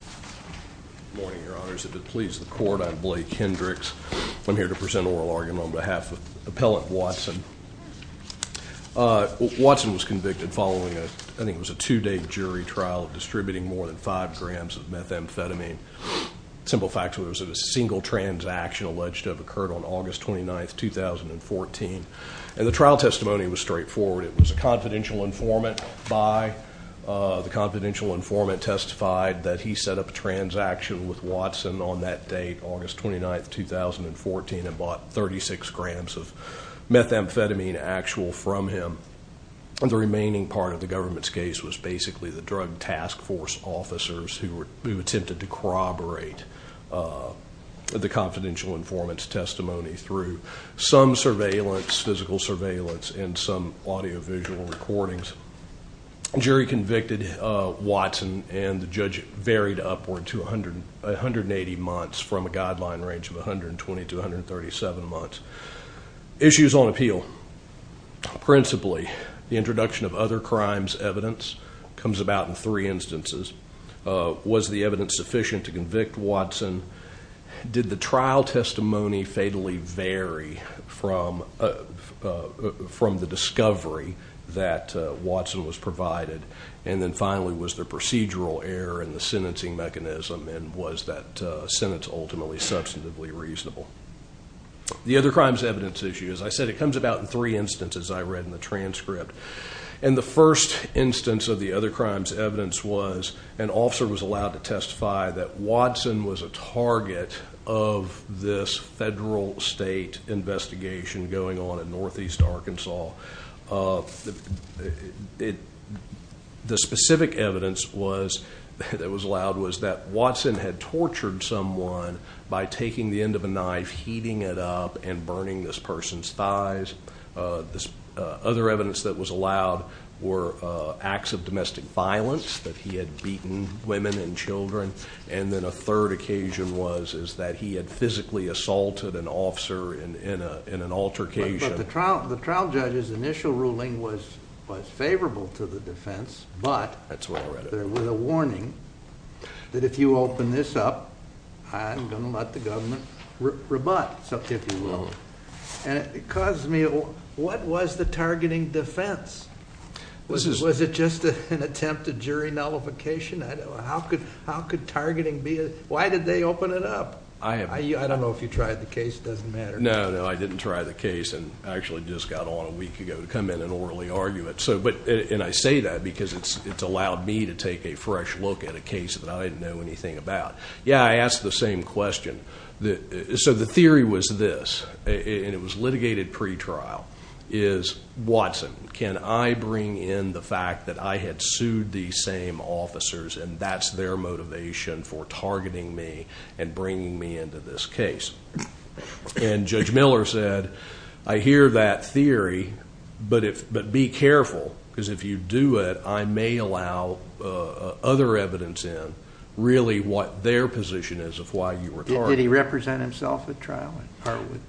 Good morning, your honors. If it pleases the court, I'm Blake Hendricks. I'm here to present an oral argument on behalf of Appellant Watson. Watson was convicted following, I think it was a two-day jury trial, of distributing more than five grams of methamphetamine. Simple fact, it was a single transaction alleged to have occurred on August 29, 2014. And the trial testimony was straightforward. It was a confidential informant by the confidential informant testified that he set up a transaction with Watson on that date, August 29, 2014, and bought 36 grams of methamphetamine actual from him. The remaining part of the government's case was basically the drug task force officers who attempted to corroborate the confidential informant's testimony through some surveillance, physical surveillance, and some audiovisual recordings. The jury convicted Watson, and the judge varied upward to 180 months from a guideline range of 120 to 137 months. Issues on appeal. Principally, the introduction of other crimes evidence comes about in three instances. Was the evidence sufficient to convict Watson? Did the trial testimony fatally vary from the discovery that Watson was provided? And then finally, was there procedural error in the sentencing mechanism, and was that sentence ultimately substantively reasonable? The other crimes evidence issue. As I said, it comes about in three instances I read in the transcript. And the first instance of the other crimes evidence was an officer was allowed to testify that Watson was a target of this federal state investigation going on in northeast Arkansas. The specific evidence that was allowed was that Watson had tortured someone by taking the end of a knife, heating it up, and burning this person's thighs. Other evidence that was allowed were acts of domestic violence, that he had beaten women and children. And then a third occasion was that he had physically assaulted an officer in an altercation. But the trial judge's initial ruling was favorable to the defense, but there was a warning that if you open this up, I'm going to let the government rebut, if you will. And it caused me, what was the targeting defense? Was it just an attempt at jury nullification? How could targeting be a, why did they open it up? I don't know if you tried the case, it doesn't matter. No, no, I didn't try the case and actually just got on a week ago to come in and orally argue it. And I say that because it's allowed me to take a fresh look at a case that I didn't know anything about. Yeah, I asked the same question. So the theory was this, and it was litigated pretrial, is Watson, can I bring in the fact that I had sued these same officers and that's their motivation for targeting me and bringing me into this case? And Judge Miller said, I hear that theory, but be careful, because if you do it, I may allow other evidence in, really what their position is of why you were targeted. Did he represent himself at trial?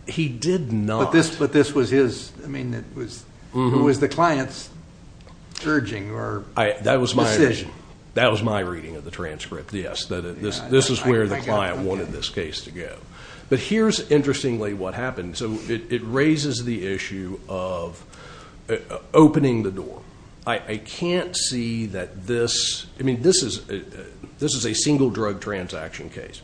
He did not. But this was his, I mean, it was the client's urging or decision. That was my reading of the transcript, yes. This is where the client wanted this case to go. But here's interestingly what happened. So it raises the issue of opening the door. I can't see that this, I mean, this is a single drug transaction case.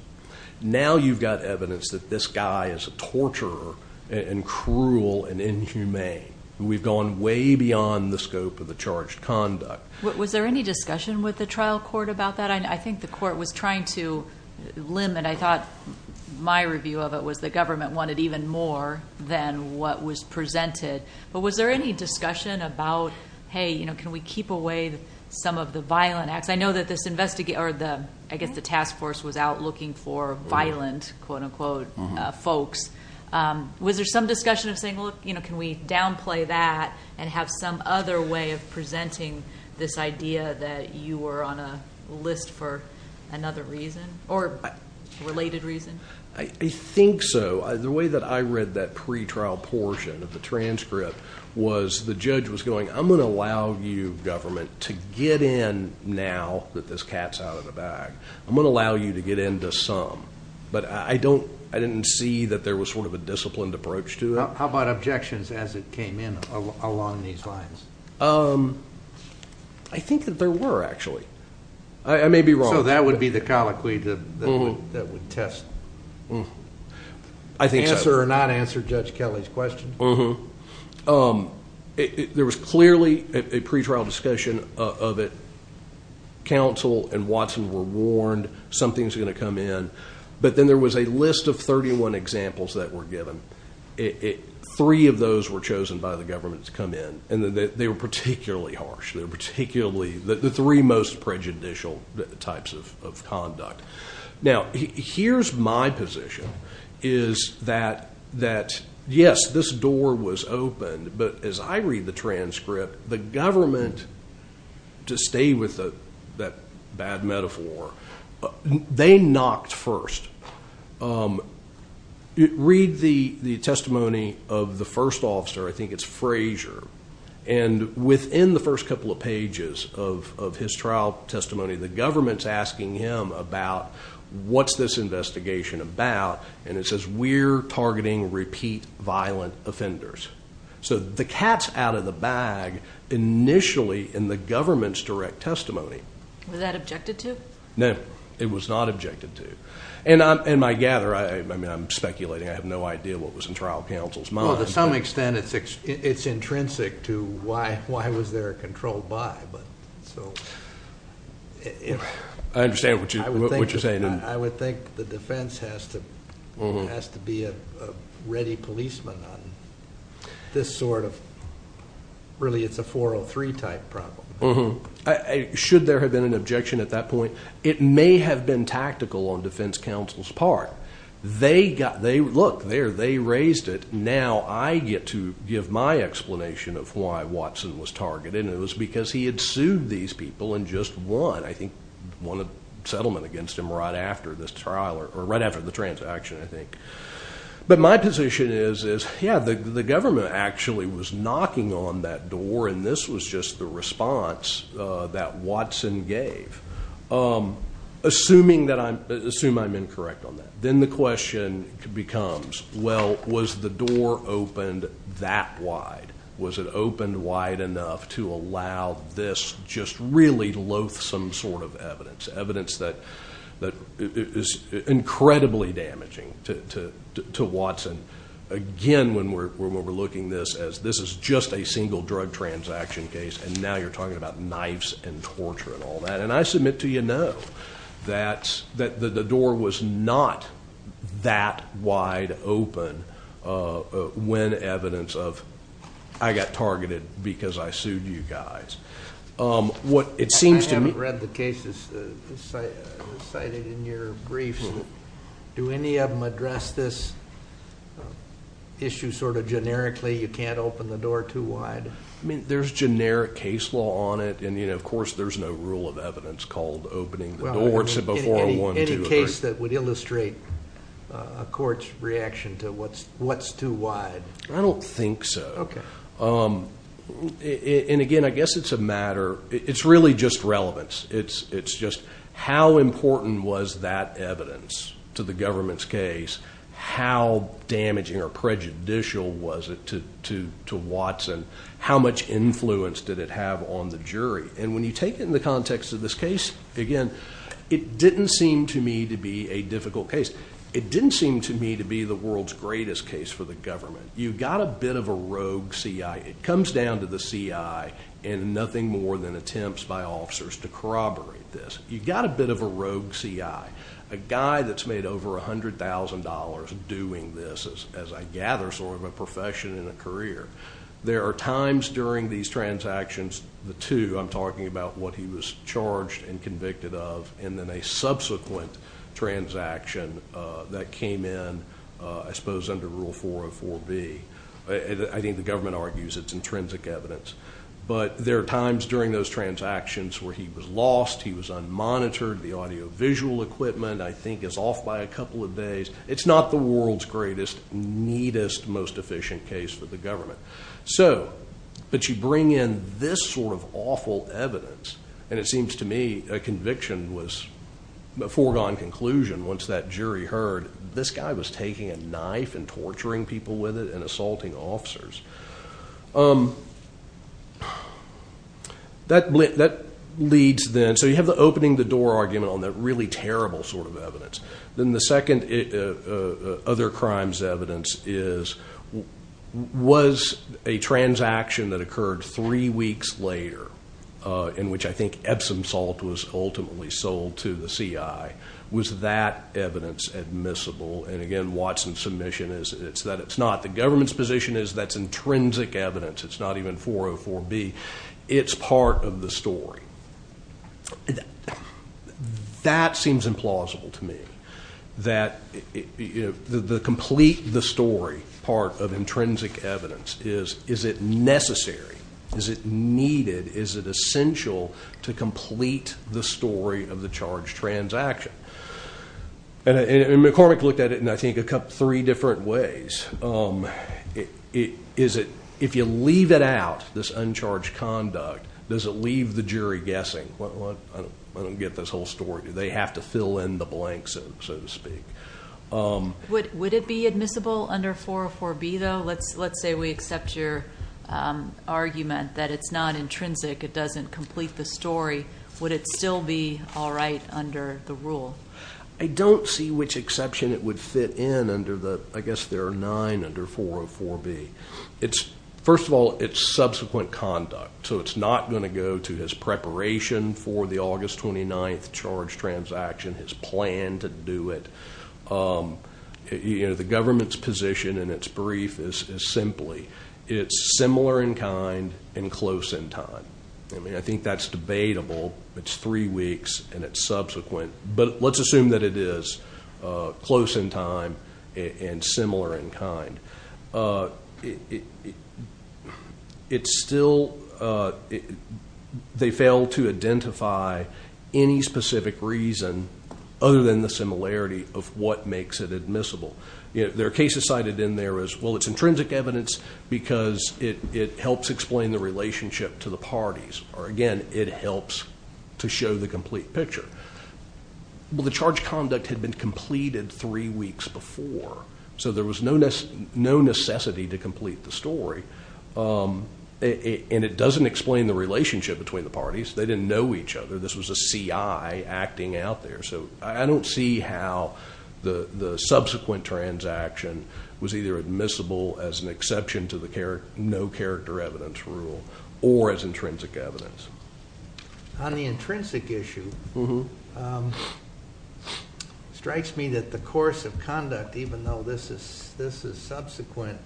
Now you've got evidence that this guy is a torturer and cruel and inhumane. We've gone way beyond the scope of the charged conduct. Was there any discussion with the trial court about that? I think the court was trying to limit. I thought my review of it was the government wanted even more than what was presented. But was there any discussion about, hey, can we keep away some of the violent acts? I know that this investigator, or I guess the task force, was out looking for violent, quote, unquote, folks. Was there some discussion of saying, look, can we downplay that and have some other way of presenting this idea that you were on a list for another reason or related reason? I think so. The way that I read that pretrial portion of the transcript was the judge was going, I'm going to allow you, government, to get in now that this cat's out of the bag. I'm going to allow you to get into some. But I didn't see that there was sort of a disciplined approach to it. How about objections as it came in along these lines? I think that there were, actually. I may be wrong. So that would be the colloquy that would test. Answer or not answer Judge Kelly's question. There was clearly a pretrial discussion of it. Counsel and Watson were warned something was going to come in. But then there was a list of 31 examples that were given. Three of those were chosen by the government to come in, and they were particularly harsh. They were particularly the three most prejudicial types of conduct. Now, here's my position, is that, yes, this door was opened. But as I read the transcript, the government, to stay with that bad metaphor, they knocked first. Read the testimony of the first officer. I think it's Frazier. And within the first couple of pages of his trial testimony, the government's asking him about what's this investigation about. And it says, we're targeting repeat violent offenders. So the cat's out of the bag initially in the government's direct testimony. Was that objected to? No, it was not objected to. And I gather, I mean, I'm speculating. I have no idea what was in trial counsel's mind. Well, to some extent it's intrinsic to why was there a controlled by. So. I understand what you're saying. I would think the defense has to be a ready policeman on this sort of, really it's a 403 type problem. Should there have been an objection at that point? It may have been tactical on defense counsel's part. Look, there, they raised it. Now I get to give my explanation of why Watson was targeted, and it was because he had sued these people and just won, I think, won a settlement against him right after this trial, or right after the transaction, I think. But my position is, yeah, the government actually was knocking on that door, and this was just the response that Watson gave. Assuming that I'm, assume I'm incorrect on that. Then the question becomes, well, was the door opened that wide? Was it opened wide enough to allow this just really loathsome sort of evidence, evidence that is incredibly damaging to Watson? Again, when we're looking at this as this is just a single drug transaction case, and now you're talking about knives and torture and all that. And I submit to you, no, that the door was not that wide open when evidence of, I got targeted because I sued you guys. I haven't read the cases cited in your briefs. Do any of them address this issue sort of generically, you can't open the door too wide? I mean, there's generic case law on it, and, of course, there's no rule of evidence called opening the door. Any case that would illustrate a court's reaction to what's too wide? I don't think so. Okay. And, again, I guess it's a matter, it's really just relevance. It's just how important was that evidence to the government's case? How damaging or prejudicial was it to Watson? How much influence did it have on the jury? And when you take it in the context of this case, again, it didn't seem to me to be a difficult case. It didn't seem to me to be the world's greatest case for the government. You've got a bit of a rogue CI. It comes down to the CI and nothing more than attempts by officers to corroborate this. You've got a bit of a rogue CI, a guy that's made over $100,000 doing this, as I gather, sort of a profession and a career. There are times during these transactions, the two, I'm talking about what he was charged and convicted of, and then a subsequent transaction that came in, I suppose, under Rule 404B. I think the government argues it's intrinsic evidence. But there are times during those transactions where he was lost, he was unmonitored. The audiovisual equipment, I think, is off by a couple of days. It's not the world's greatest, neatest, most efficient case for the government. But you bring in this sort of awful evidence, and it seems to me a conviction was a foregone conclusion once that jury heard, this guy was taking a knife and torturing people with it and assaulting officers. That leads then, so you have the opening the door argument on that really terrible sort of evidence. Then the second other crime's evidence is, was a transaction that occurred three weeks later, in which I think Epsom salt was ultimately sold to the CI, was that evidence admissible? And again, Watson's submission is that it's not. The government's position is that's intrinsic evidence. It's not even 404B. It's part of the story. That seems implausible to me, that the complete the story part of intrinsic evidence. Is it necessary? Is it needed? Is it essential to complete the story of the charged transaction? And McCormick looked at it in, I think, three different ways. If you leave it out, this uncharged conduct, does it leave the jury guessing? I don't get this whole story. Do they have to fill in the blanks, so to speak? Would it be admissible under 404B, though? Let's say we accept your argument that it's not intrinsic. It doesn't complete the story. Would it still be all right under the rule? I don't see which exception it would fit in under the, I guess there are nine under 404B. First of all, it's subsequent conduct. So it's not going to go to his preparation for the August 29th charged transaction, his plan to do it. The government's position in its brief is simply, it's similar in kind and close in time. I mean, I think that's debatable. It's three weeks, and it's subsequent. But let's assume that it is close in time and similar in kind. It's still, they fail to identify any specific reason other than the similarity of what makes it admissible. There are cases cited in there as, well, it's intrinsic evidence because it helps explain the relationship to the parties. Or, again, it helps to show the complete picture. Well, the charged conduct had been completed three weeks before, so there was no necessity to complete the story. And it doesn't explain the relationship between the parties. They didn't know each other. This was a CI acting out there. So I don't see how the subsequent transaction was either admissible as an exception to the no character evidence rule or as intrinsic evidence. On the intrinsic issue, it strikes me that the course of conduct, even though this is subsequent,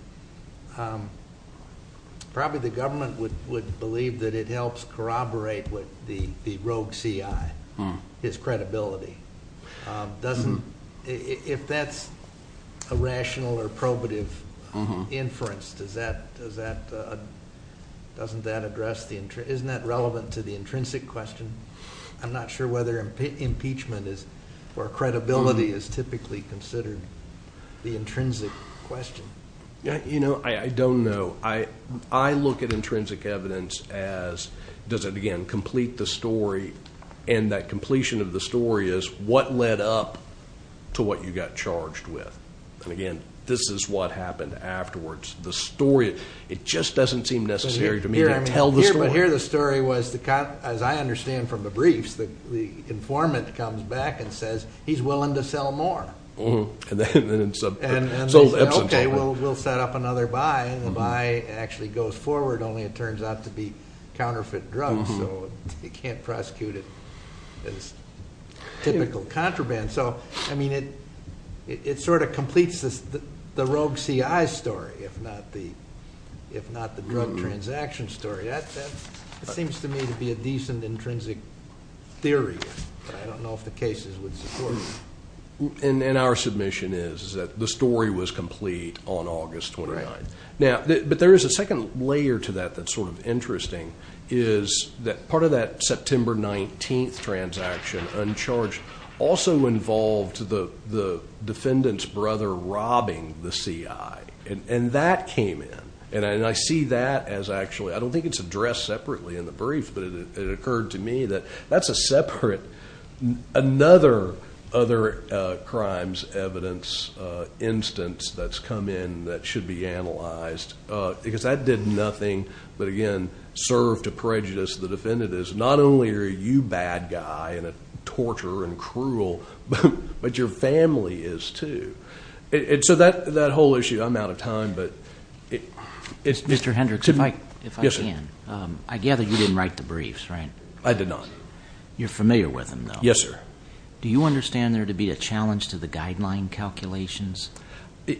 probably the government would believe that it helps corroborate with the rogue CI, his credibility. If that's a rational or probative inference, doesn't that address the, isn't that relevant to the intrinsic question? I'm not sure whether impeachment or credibility is typically considered the intrinsic question. You know, I don't know. I look at intrinsic evidence as, does it, again, complete the story? And that completion of the story is what led up to what you got charged with. And, again, this is what happened afterwards. The story, it just doesn't seem necessary to me to tell the story. But here the story was, as I understand from the briefs, the informant comes back and says, he's willing to sell more. And then it's a, it's all ebbs and flows. Okay, we'll set up another buy, and the buy actually goes forward, only it turns out to be counterfeit drugs. So you can't prosecute it as typical contraband. And so, I mean, it sort of completes the rogue CI story, if not the drug transaction story. That seems to me to be a decent intrinsic theory. But I don't know if the cases would support it. And our submission is that the story was complete on August 29th. Now, but there is a second layer to that that's sort of interesting, is that part of that September 19th transaction, uncharged, also involved the defendant's brother robbing the CI. And that came in. And I see that as actually, I don't think it's addressed separately in the brief, but it occurred to me that that's a separate, another other crimes evidence instance that's come in that should be analyzed. Because that did nothing but, again, serve to prejudice the defendants. Not only are you bad guy and a torturer and cruel, but your family is, too. And so that whole issue, I'm out of time, but. Mr. Hendricks, if I can. I gather you didn't write the briefs, right? I did not. You're familiar with them, though. Yes, sir. Do you understand there to be a challenge to the guideline calculations?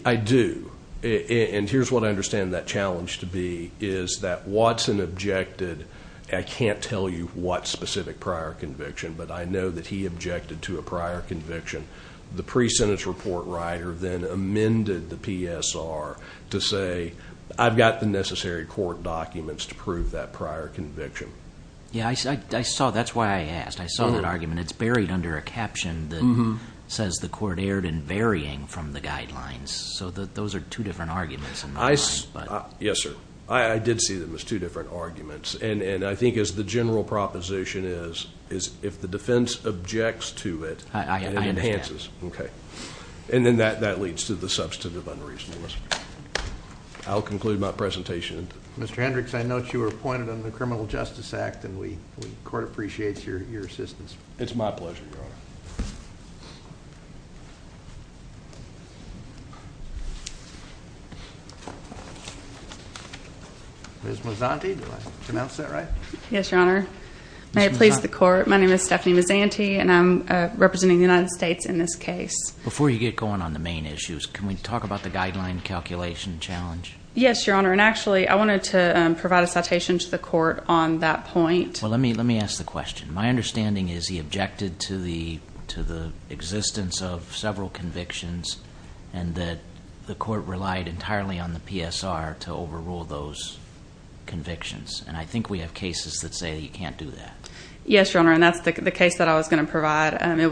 I do. And here's what I understand that challenge to be, is that Watson objected. I can't tell you what specific prior conviction, but I know that he objected to a prior conviction. The pre-sentence report writer then amended the PSR to say, I've got the necessary court documents to prove that prior conviction. Yeah, I saw. That's why I asked. I saw that argument. It's buried under a caption that says the court erred in varying from the guidelines. So those are two different arguments. Yes, sir. I did see them as two different arguments. And I think as the general proposition is, is if the defense objects to it, it enhances. I understand. Okay. And then that leads to the substantive unreasonableness. I'll conclude my presentation. Mr. Hendricks, I note you were appointed under the Criminal Justice Act, and the court appreciates your assistance. It's my pleasure, Your Honor. Ms. Mazzanti, did I pronounce that right? Yes, Your Honor. May it please the court, my name is Stephanie Mazzanti, and I'm representing the United States in this case. Before you get going on the main issues, can we talk about the guideline calculation challenge? Yes, Your Honor. And actually, I wanted to provide a citation to the court on that point. Well, let me ask the question. My understanding is he objected to the existence of several convictions and that the court relied entirely on the PSR to overrule those convictions. And I think we have cases that say you can't do that. Yes, Your Honor, and that's the case that I was going to provide. It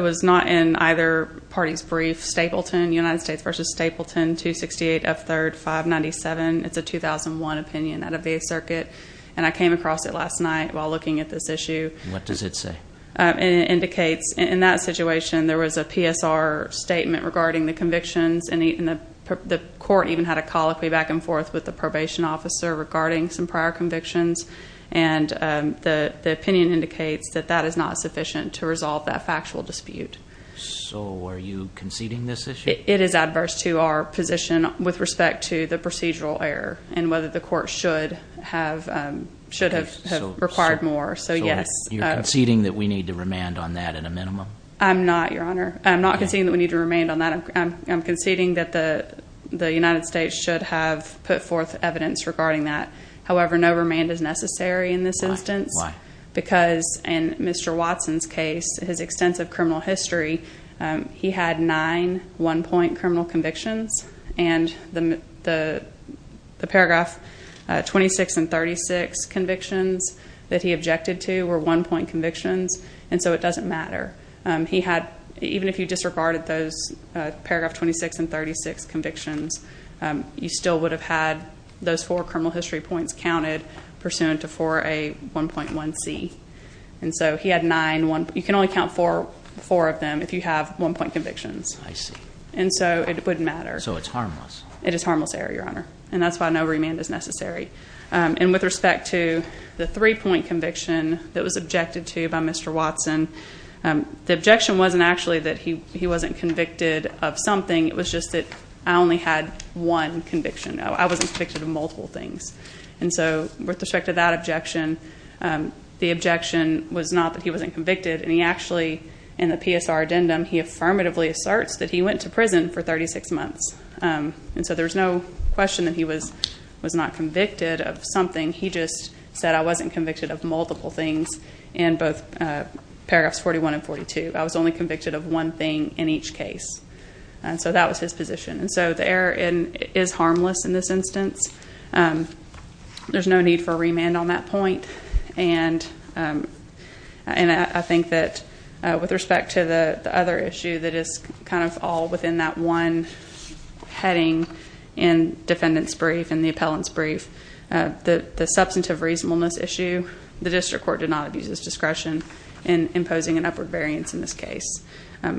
was not in either party's brief. Stapleton, United States v. Stapleton, 268 F. 3rd, 597. It's a 2001 opinion out of the circuit, and I came across it last night while looking at this issue. What does it say? It indicates in that situation there was a PSR statement regarding the convictions, and the court even had a colloquy back and forth with the probation officer regarding some prior convictions. And the opinion indicates that that is not sufficient to resolve that factual dispute. So are you conceding this issue? It is adverse to our position with respect to the procedural error and whether the court should have required more, so yes. So you're conceding that we need to remand on that at a minimum? I'm not, Your Honor. I'm not conceding that we need to remand on that. I'm conceding that the United States should have put forth evidence regarding that. However, no remand is necessary in this instance. Why? Because in Mr. Watson's case, his extensive criminal history, he had nine one-point criminal convictions, and the paragraph 26 and 36 convictions that he objected to were one-point convictions, and so it doesn't matter. He had, even if you disregarded those paragraph 26 and 36 convictions, you still would have had those four criminal history points counted pursuant to 4A1.1C. And so he had nine, you can only count four of them if you have one-point convictions. I see. And so it wouldn't matter. So it's harmless. It is harmless error, Your Honor, and that's why no remand is necessary. And with respect to the three-point conviction that was objected to by Mr. Watson, the objection wasn't actually that he wasn't convicted of something. It was just that I only had one conviction. I wasn't convicted of multiple things. And so with respect to that objection, the objection was not that he wasn't convicted, and he actually, in the PSR addendum, he affirmatively asserts that he went to prison for 36 months. And so there's no question that he was not convicted of something. He just said I wasn't convicted of multiple things in both paragraphs 41 and 42. I was only convicted of one thing in each case. And so that was his position. And so the error is harmless in this instance. There's no need for a remand on that point. And I think that with respect to the other issue that is kind of all within that one heading in defendant's brief, in the appellant's brief, the substantive reasonableness issue, the district court did not abuse its discretion in imposing an upward variance in this case.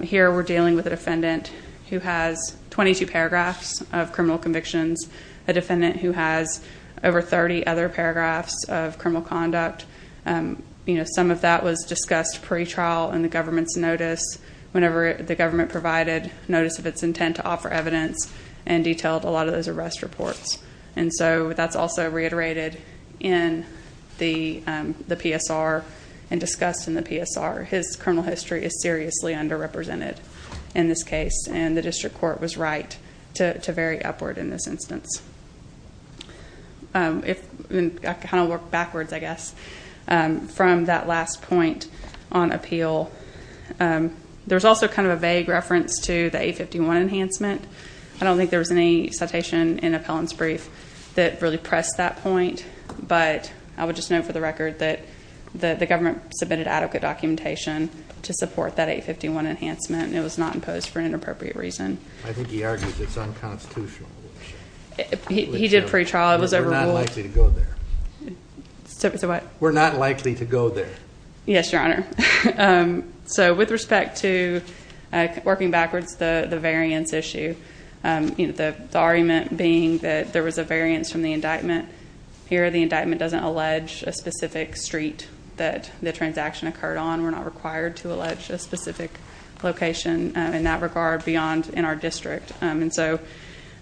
Here we're dealing with a defendant who has 22 paragraphs of criminal convictions, a defendant who has over 30 other paragraphs of criminal conduct. Some of that was discussed pre-trial in the government's notice. Whenever the government provided notice of its intent to offer evidence and detailed a lot of those arrest reports. And so that's also reiterated in the PSR and discussed in the PSR. His criminal history is seriously underrepresented in this case, and the district court was right to vary upward in this instance. I kind of work backwards, I guess, from that last point on appeal. There's also kind of a vague reference to the 851 enhancement. I don't think there was any citation in appellant's brief that really pressed that point, but I would just note for the record that the government submitted adequate documentation to support that 851 enhancement. It was not imposed for an inappropriate reason. I think he argues it's unconstitutional. He did pre-trial. It was overruled. We're not likely to go there. So what? We're not likely to go there. Yes, Your Honor. So with respect to working backwards, the variance issue, the argument being that there was a variance from the indictment. Here the indictment doesn't allege a specific street that the transaction occurred on. We're not required to allege a specific location in that regard beyond in our district. And so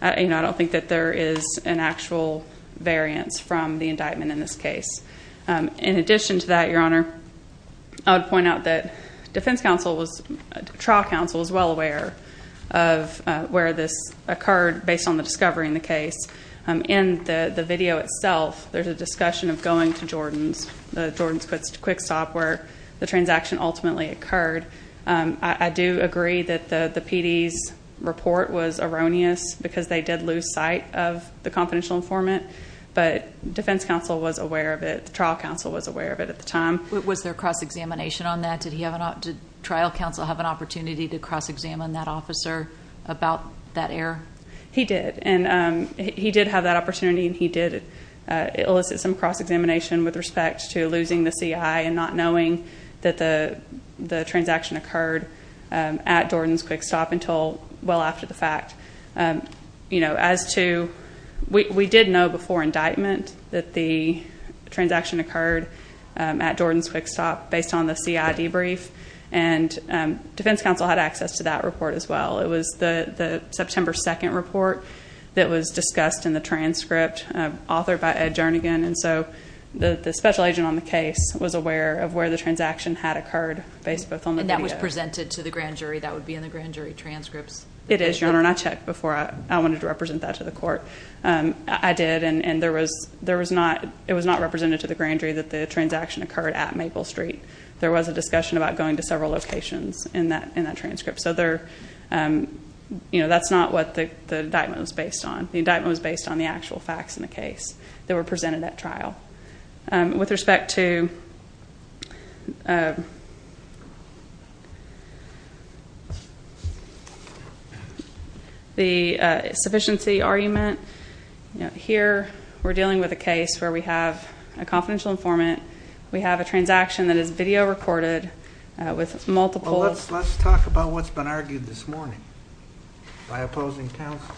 I don't think that there is an actual variance from the indictment in this case. In addition to that, Your Honor, I would point out that defense counsel, trial counsel, was well aware of where this occurred based on the discovery in the case. In the video itself, there's a discussion of going to Jordan's. It's a quick stop where the transaction ultimately occurred. I do agree that the PD's report was erroneous because they did lose sight of the confidential informant. But defense counsel was aware of it. Trial counsel was aware of it at the time. Was there cross-examination on that? Did trial counsel have an opportunity to cross-examine that officer about that error? He did. And he did have that opportunity and he did elicit some cross-examination with respect to losing the CI and not knowing that the transaction occurred at Jordan's quick stop until well after the fact. As to, we did know before indictment that the transaction occurred at Jordan's quick stop based on the CI debrief. And defense counsel had access to that report as well. It was the September 2nd report that was discussed in the transcript authored by Ed Jernigan. And so the special agent on the case was aware of where the transaction had occurred based both on the video. And that was presented to the grand jury? That would be in the grand jury transcripts? It is, Your Honor. And I checked before I wanted to represent that to the court. I did. And it was not represented to the grand jury that the transaction occurred at Maple Street. There was a discussion about going to several locations in that transcript. So that's not what the indictment was based on. The indictment was based on the actual facts in the case that were presented at trial. With respect to the sufficiency argument, here we're dealing with a case where we have a confidential informant. We have a transaction that is video recorded with multiple. Well, let's talk about what's been argued this morning by opposing counsel.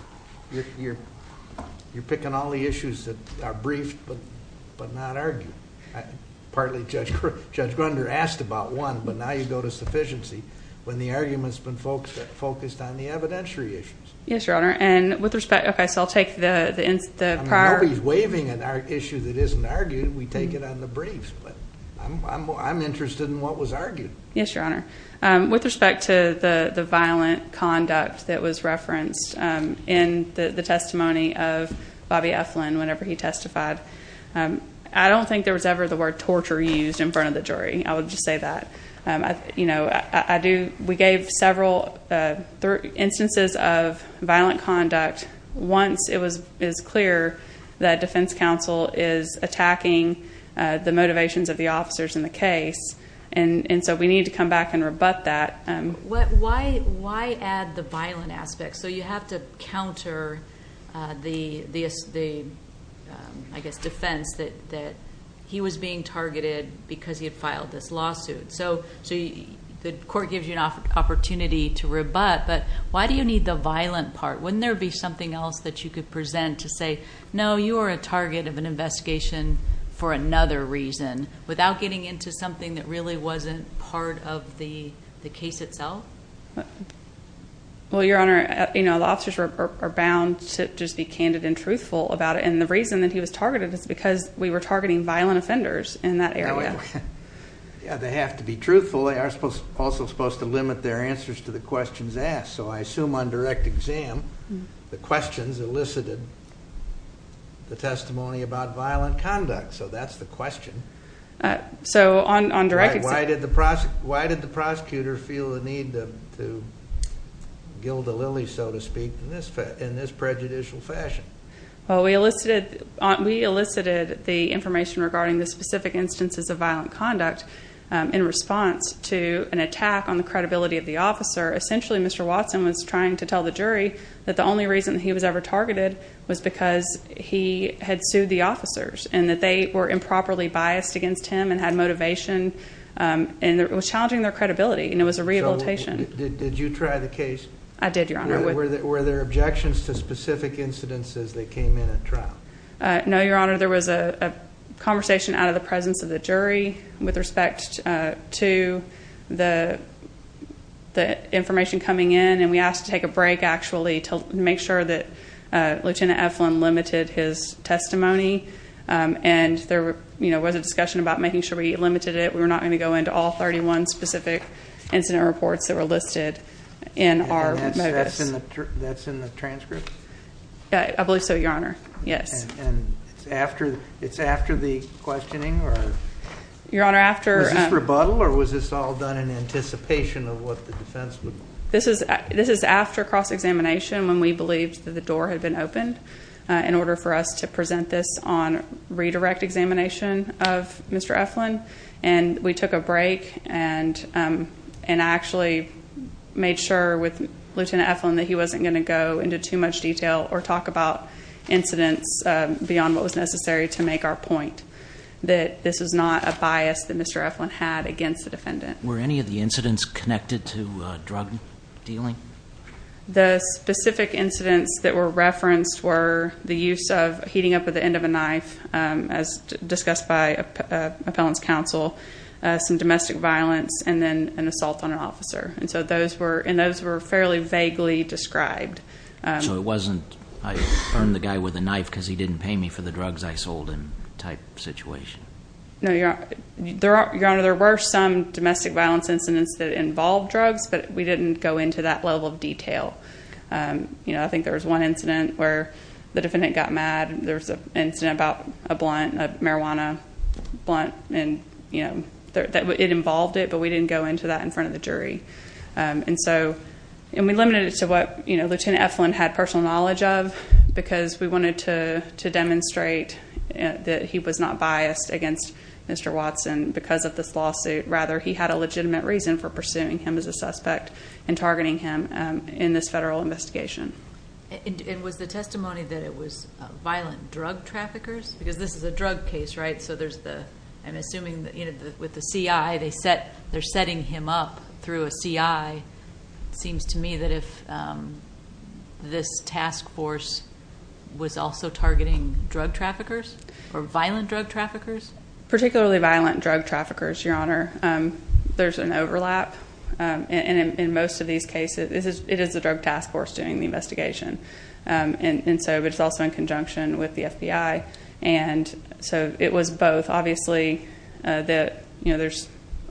You're picking all the issues that are briefed but not argued. Partly Judge Grunder asked about one, but now you go to sufficiency when the argument's been focused on the evidentiary issues. Yes, Your Honor. Okay, so I'll take the prior. Nobody's waiving an issue that isn't argued. We take it on the briefs. But I'm interested in what was argued. Yes, Your Honor. With respect to the violent conduct that was referenced in the testimony of Bobby Eflin whenever he testified, I don't think there was ever the word torture used in front of the jury. I would just say that. We gave several instances of violent conduct once it was clear that defense counsel is attacking the motivations of the officers in the case. And so we need to come back and rebut that. Why add the violent aspect? So you have to counter the, I guess, defense that he was being targeted because he had filed this lawsuit. So the court gives you an opportunity to rebut, but why do you need the violent part? Wouldn't there be something else that you could present to say, no, you are a target of an investigation for another reason, without getting into something that really wasn't part of the case itself? Well, Your Honor, the officers are bound to just be candid and truthful about it. And the reason that he was targeted is because we were targeting violent offenders in that area. Yeah, they have to be truthful. They are also supposed to limit their answers to the questions asked. So I assume on direct exam the questions elicited the testimony about violent conduct. So that's the question. Why did the prosecutor feel the need to gild the lily, so to speak, in this prejudicial fashion? Well, we elicited the information regarding the specific instances of violent conduct in response to an attack on the credibility of the officer. Essentially, Mr. Watson was trying to tell the jury that the only reason he was ever targeted was because he had sued the officers and that they were improperly biased against him and had motivation. And it was challenging their credibility, and it was a rehabilitation. So did you try the case? I did, Your Honor. Were there objections to specific incidences that came in at trial? No, Your Honor. There was a conversation out of the presence of the jury with respect to the information coming in. And we asked to take a break, actually, to make sure that Lieutenant Eflin limited his testimony. And there was a discussion about making sure we limited it. We were not going to go into all 31 specific incident reports that were listed in our modus. And that's in the transcript? I believe so, Your Honor, yes. And it's after the questioning? Your Honor, after— Was this rebuttal, or was this all done in anticipation of what the defense would— This is after cross-examination when we believed that the door had been opened in order for us to present this on redirect examination of Mr. Eflin. And we took a break and actually made sure with Lieutenant Eflin that he wasn't going to go into too much detail or talk about incidents beyond what was necessary to make our point, that this was not a bias that Mr. Eflin had against the defendant. Were any of the incidents connected to drug dealing? The specific incidents that were referenced were the use of heating up at the end of a knife, as discussed by appellant's counsel, some domestic violence, and then an assault on an officer. And those were fairly vaguely described. So it wasn't, I burned the guy with a knife because he didn't pay me for the drugs I sold him type situation? Your Honor, there were some domestic violence incidents that involved drugs, but we didn't go into that level of detail. I think there was one incident where the defendant got mad. There was an incident about a blunt, a marijuana blunt, and it involved it, but we didn't go into that in front of the jury. And we limited it to what Lieutenant Eflin had personal knowledge of because we wanted to demonstrate that he was not biased against Mr. Watson because of this lawsuit. Rather, he had a legitimate reason for pursuing him as a suspect and targeting him in this federal investigation. And was the testimony that it was violent drug traffickers? Because this is a drug case, right? So there's the, I'm assuming with the CI, they're setting him up through a CI. It seems to me that if this task force was also targeting drug traffickers or violent drug traffickers? Particularly violent drug traffickers, Your Honor. There's an overlap. And in most of these cases, it is the drug task force doing the investigation. And so it's also in conjunction with the FBI. And so it was both. Obviously, there's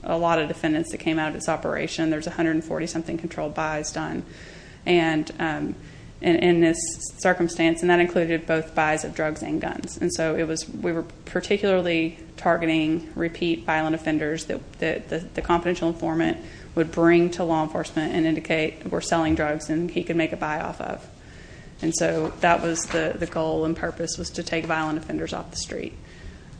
a lot of defendants that came out of this operation. There's 140-something controlled buys done in this circumstance. And that included both buys of drugs and guns. And so we were particularly targeting repeat violent offenders that the confidential informant would bring to law enforcement and indicate we're selling drugs and he could make a buy-off of. And so that was the goal and purpose was to take violent offenders off the street.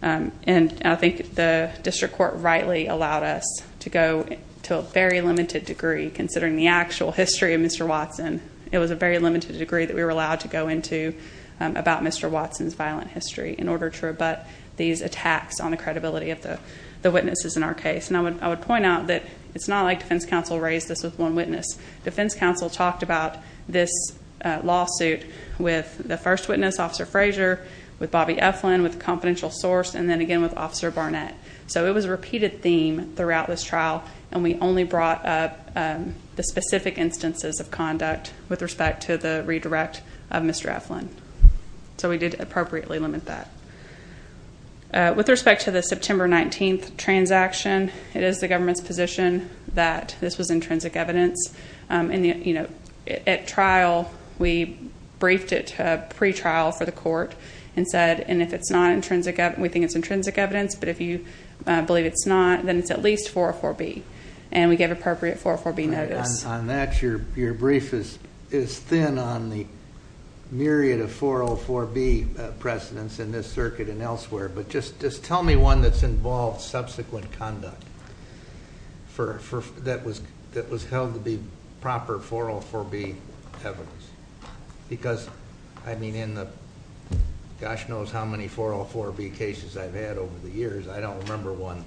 And I think the district court rightly allowed us to go to a very limited degree, considering the actual history of Mr. Watson. It was a very limited degree that we were allowed to go into about Mr. Watson's violent history in order to rebut these attacks on the credibility of the witnesses in our case. And I would point out that it's not like defense counsel raised this with one witness. Defense counsel talked about this lawsuit with the first witness, Officer Frazier, with Bobby Eflin, with the confidential source, and then again with Officer Barnett. So it was a repeated theme throughout this trial, and we only brought up the specific instances of conduct with respect to the redirect of Mr. Eflin. So we did appropriately limit that. With respect to the September 19th transaction, it is the government's position that this was intrinsic evidence. At trial, we briefed it pre-trial for the court and said, and if it's not intrinsic evidence, we think it's intrinsic evidence, but if you believe it's not, then it's at least 404B. And we gave appropriate 404B notice. On that, your brief is thin on the myriad of 404B precedents in this circuit and elsewhere, but just tell me one that's involved subsequent conduct that was held to be proper 404B evidence. Because, I mean, in the gosh knows how many 404B cases I've had over the years, I don't remember one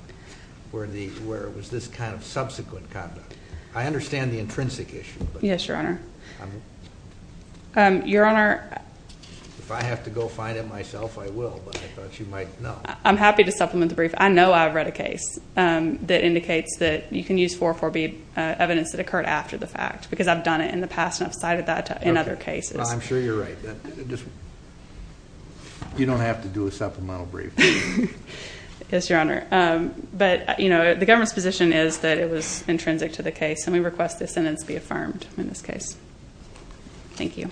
where it was this kind of subsequent conduct. I understand the intrinsic issue, but- Yes, your Honor. Your Honor- If I have to go find it myself, I will, but I thought you might know. I'm happy to supplement the brief. I know I've read a case that indicates that you can use 404B evidence that occurred after the fact, because I've done it in the past and I've cited that in other cases. I'm sure you're right. You don't have to do a supplemental brief. Yes, your Honor. But, you know, the government's position is that it was intrinsic to the case, and we request this sentence be affirmed in this case. Thank you.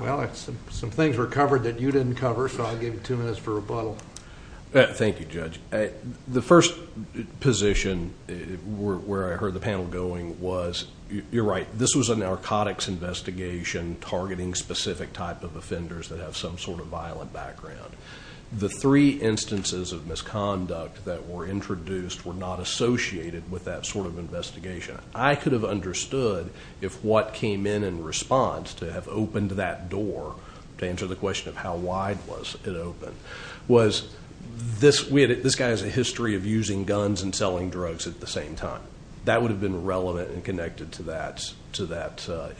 Well, some things were covered that you didn't cover, so I'll give you two minutes for rebuttal. Thank you, Judge. The first position where I heard the panel going was, you're right, this was a narcotics investigation targeting specific type of offenders that have some sort of violent background. The three instances of misconduct that were introduced were not associated with that sort of investigation. I could have understood if what came in in response to have opened that door, to answer the question of how wide was it open, was this guy has a history of using guns and selling drugs at the same time. That would have been relevant and connected to that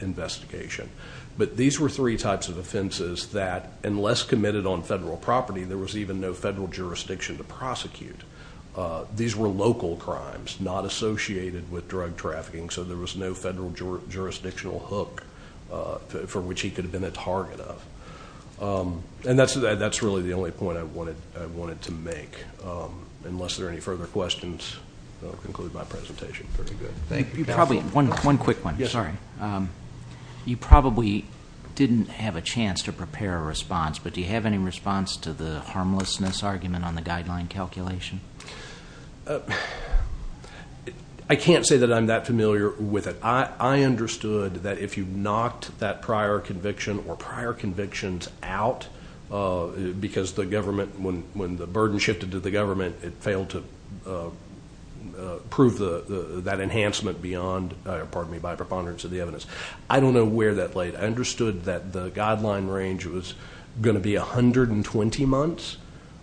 investigation. But these were three types of offenses that, unless committed on federal property, there was even no federal jurisdiction to prosecute. These were local crimes, not associated with drug trafficking, so there was no federal jurisdictional hook for which he could have been a target of. And that's really the only point I wanted to make. Unless there are any further questions, I'll conclude my presentation. Very good. One quick one. Sorry. You probably didn't have a chance to prepare a response, but do you have any response to the harmlessness argument on the guideline calculation? I can't say that I'm that familiar with it. I understood that if you knocked that prior conviction or prior convictions out, because the government, when the burden shifted to the government, it failed to prove that enhancement beyond, pardon me, by preponderance of the evidence. I don't know where that laid. I understood that the guideline range was going to be 120 months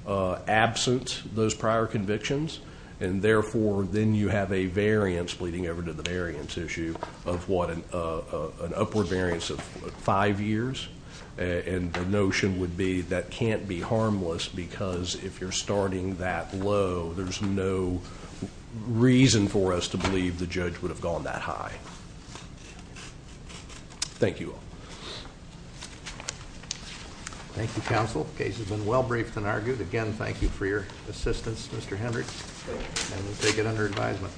absent those prior convictions, and therefore then you have a variance leading over to the variance issue of what, an upward variance of five years, and the notion would be that can't be harmless because if you're starting that low, there's no reason for us to believe the judge would have gone that high. Thank you all. Thank you, counsel. The case has been well briefed and argued. Again, thank you for your assistance, Mr. Henrich, and we'll take it under advisement.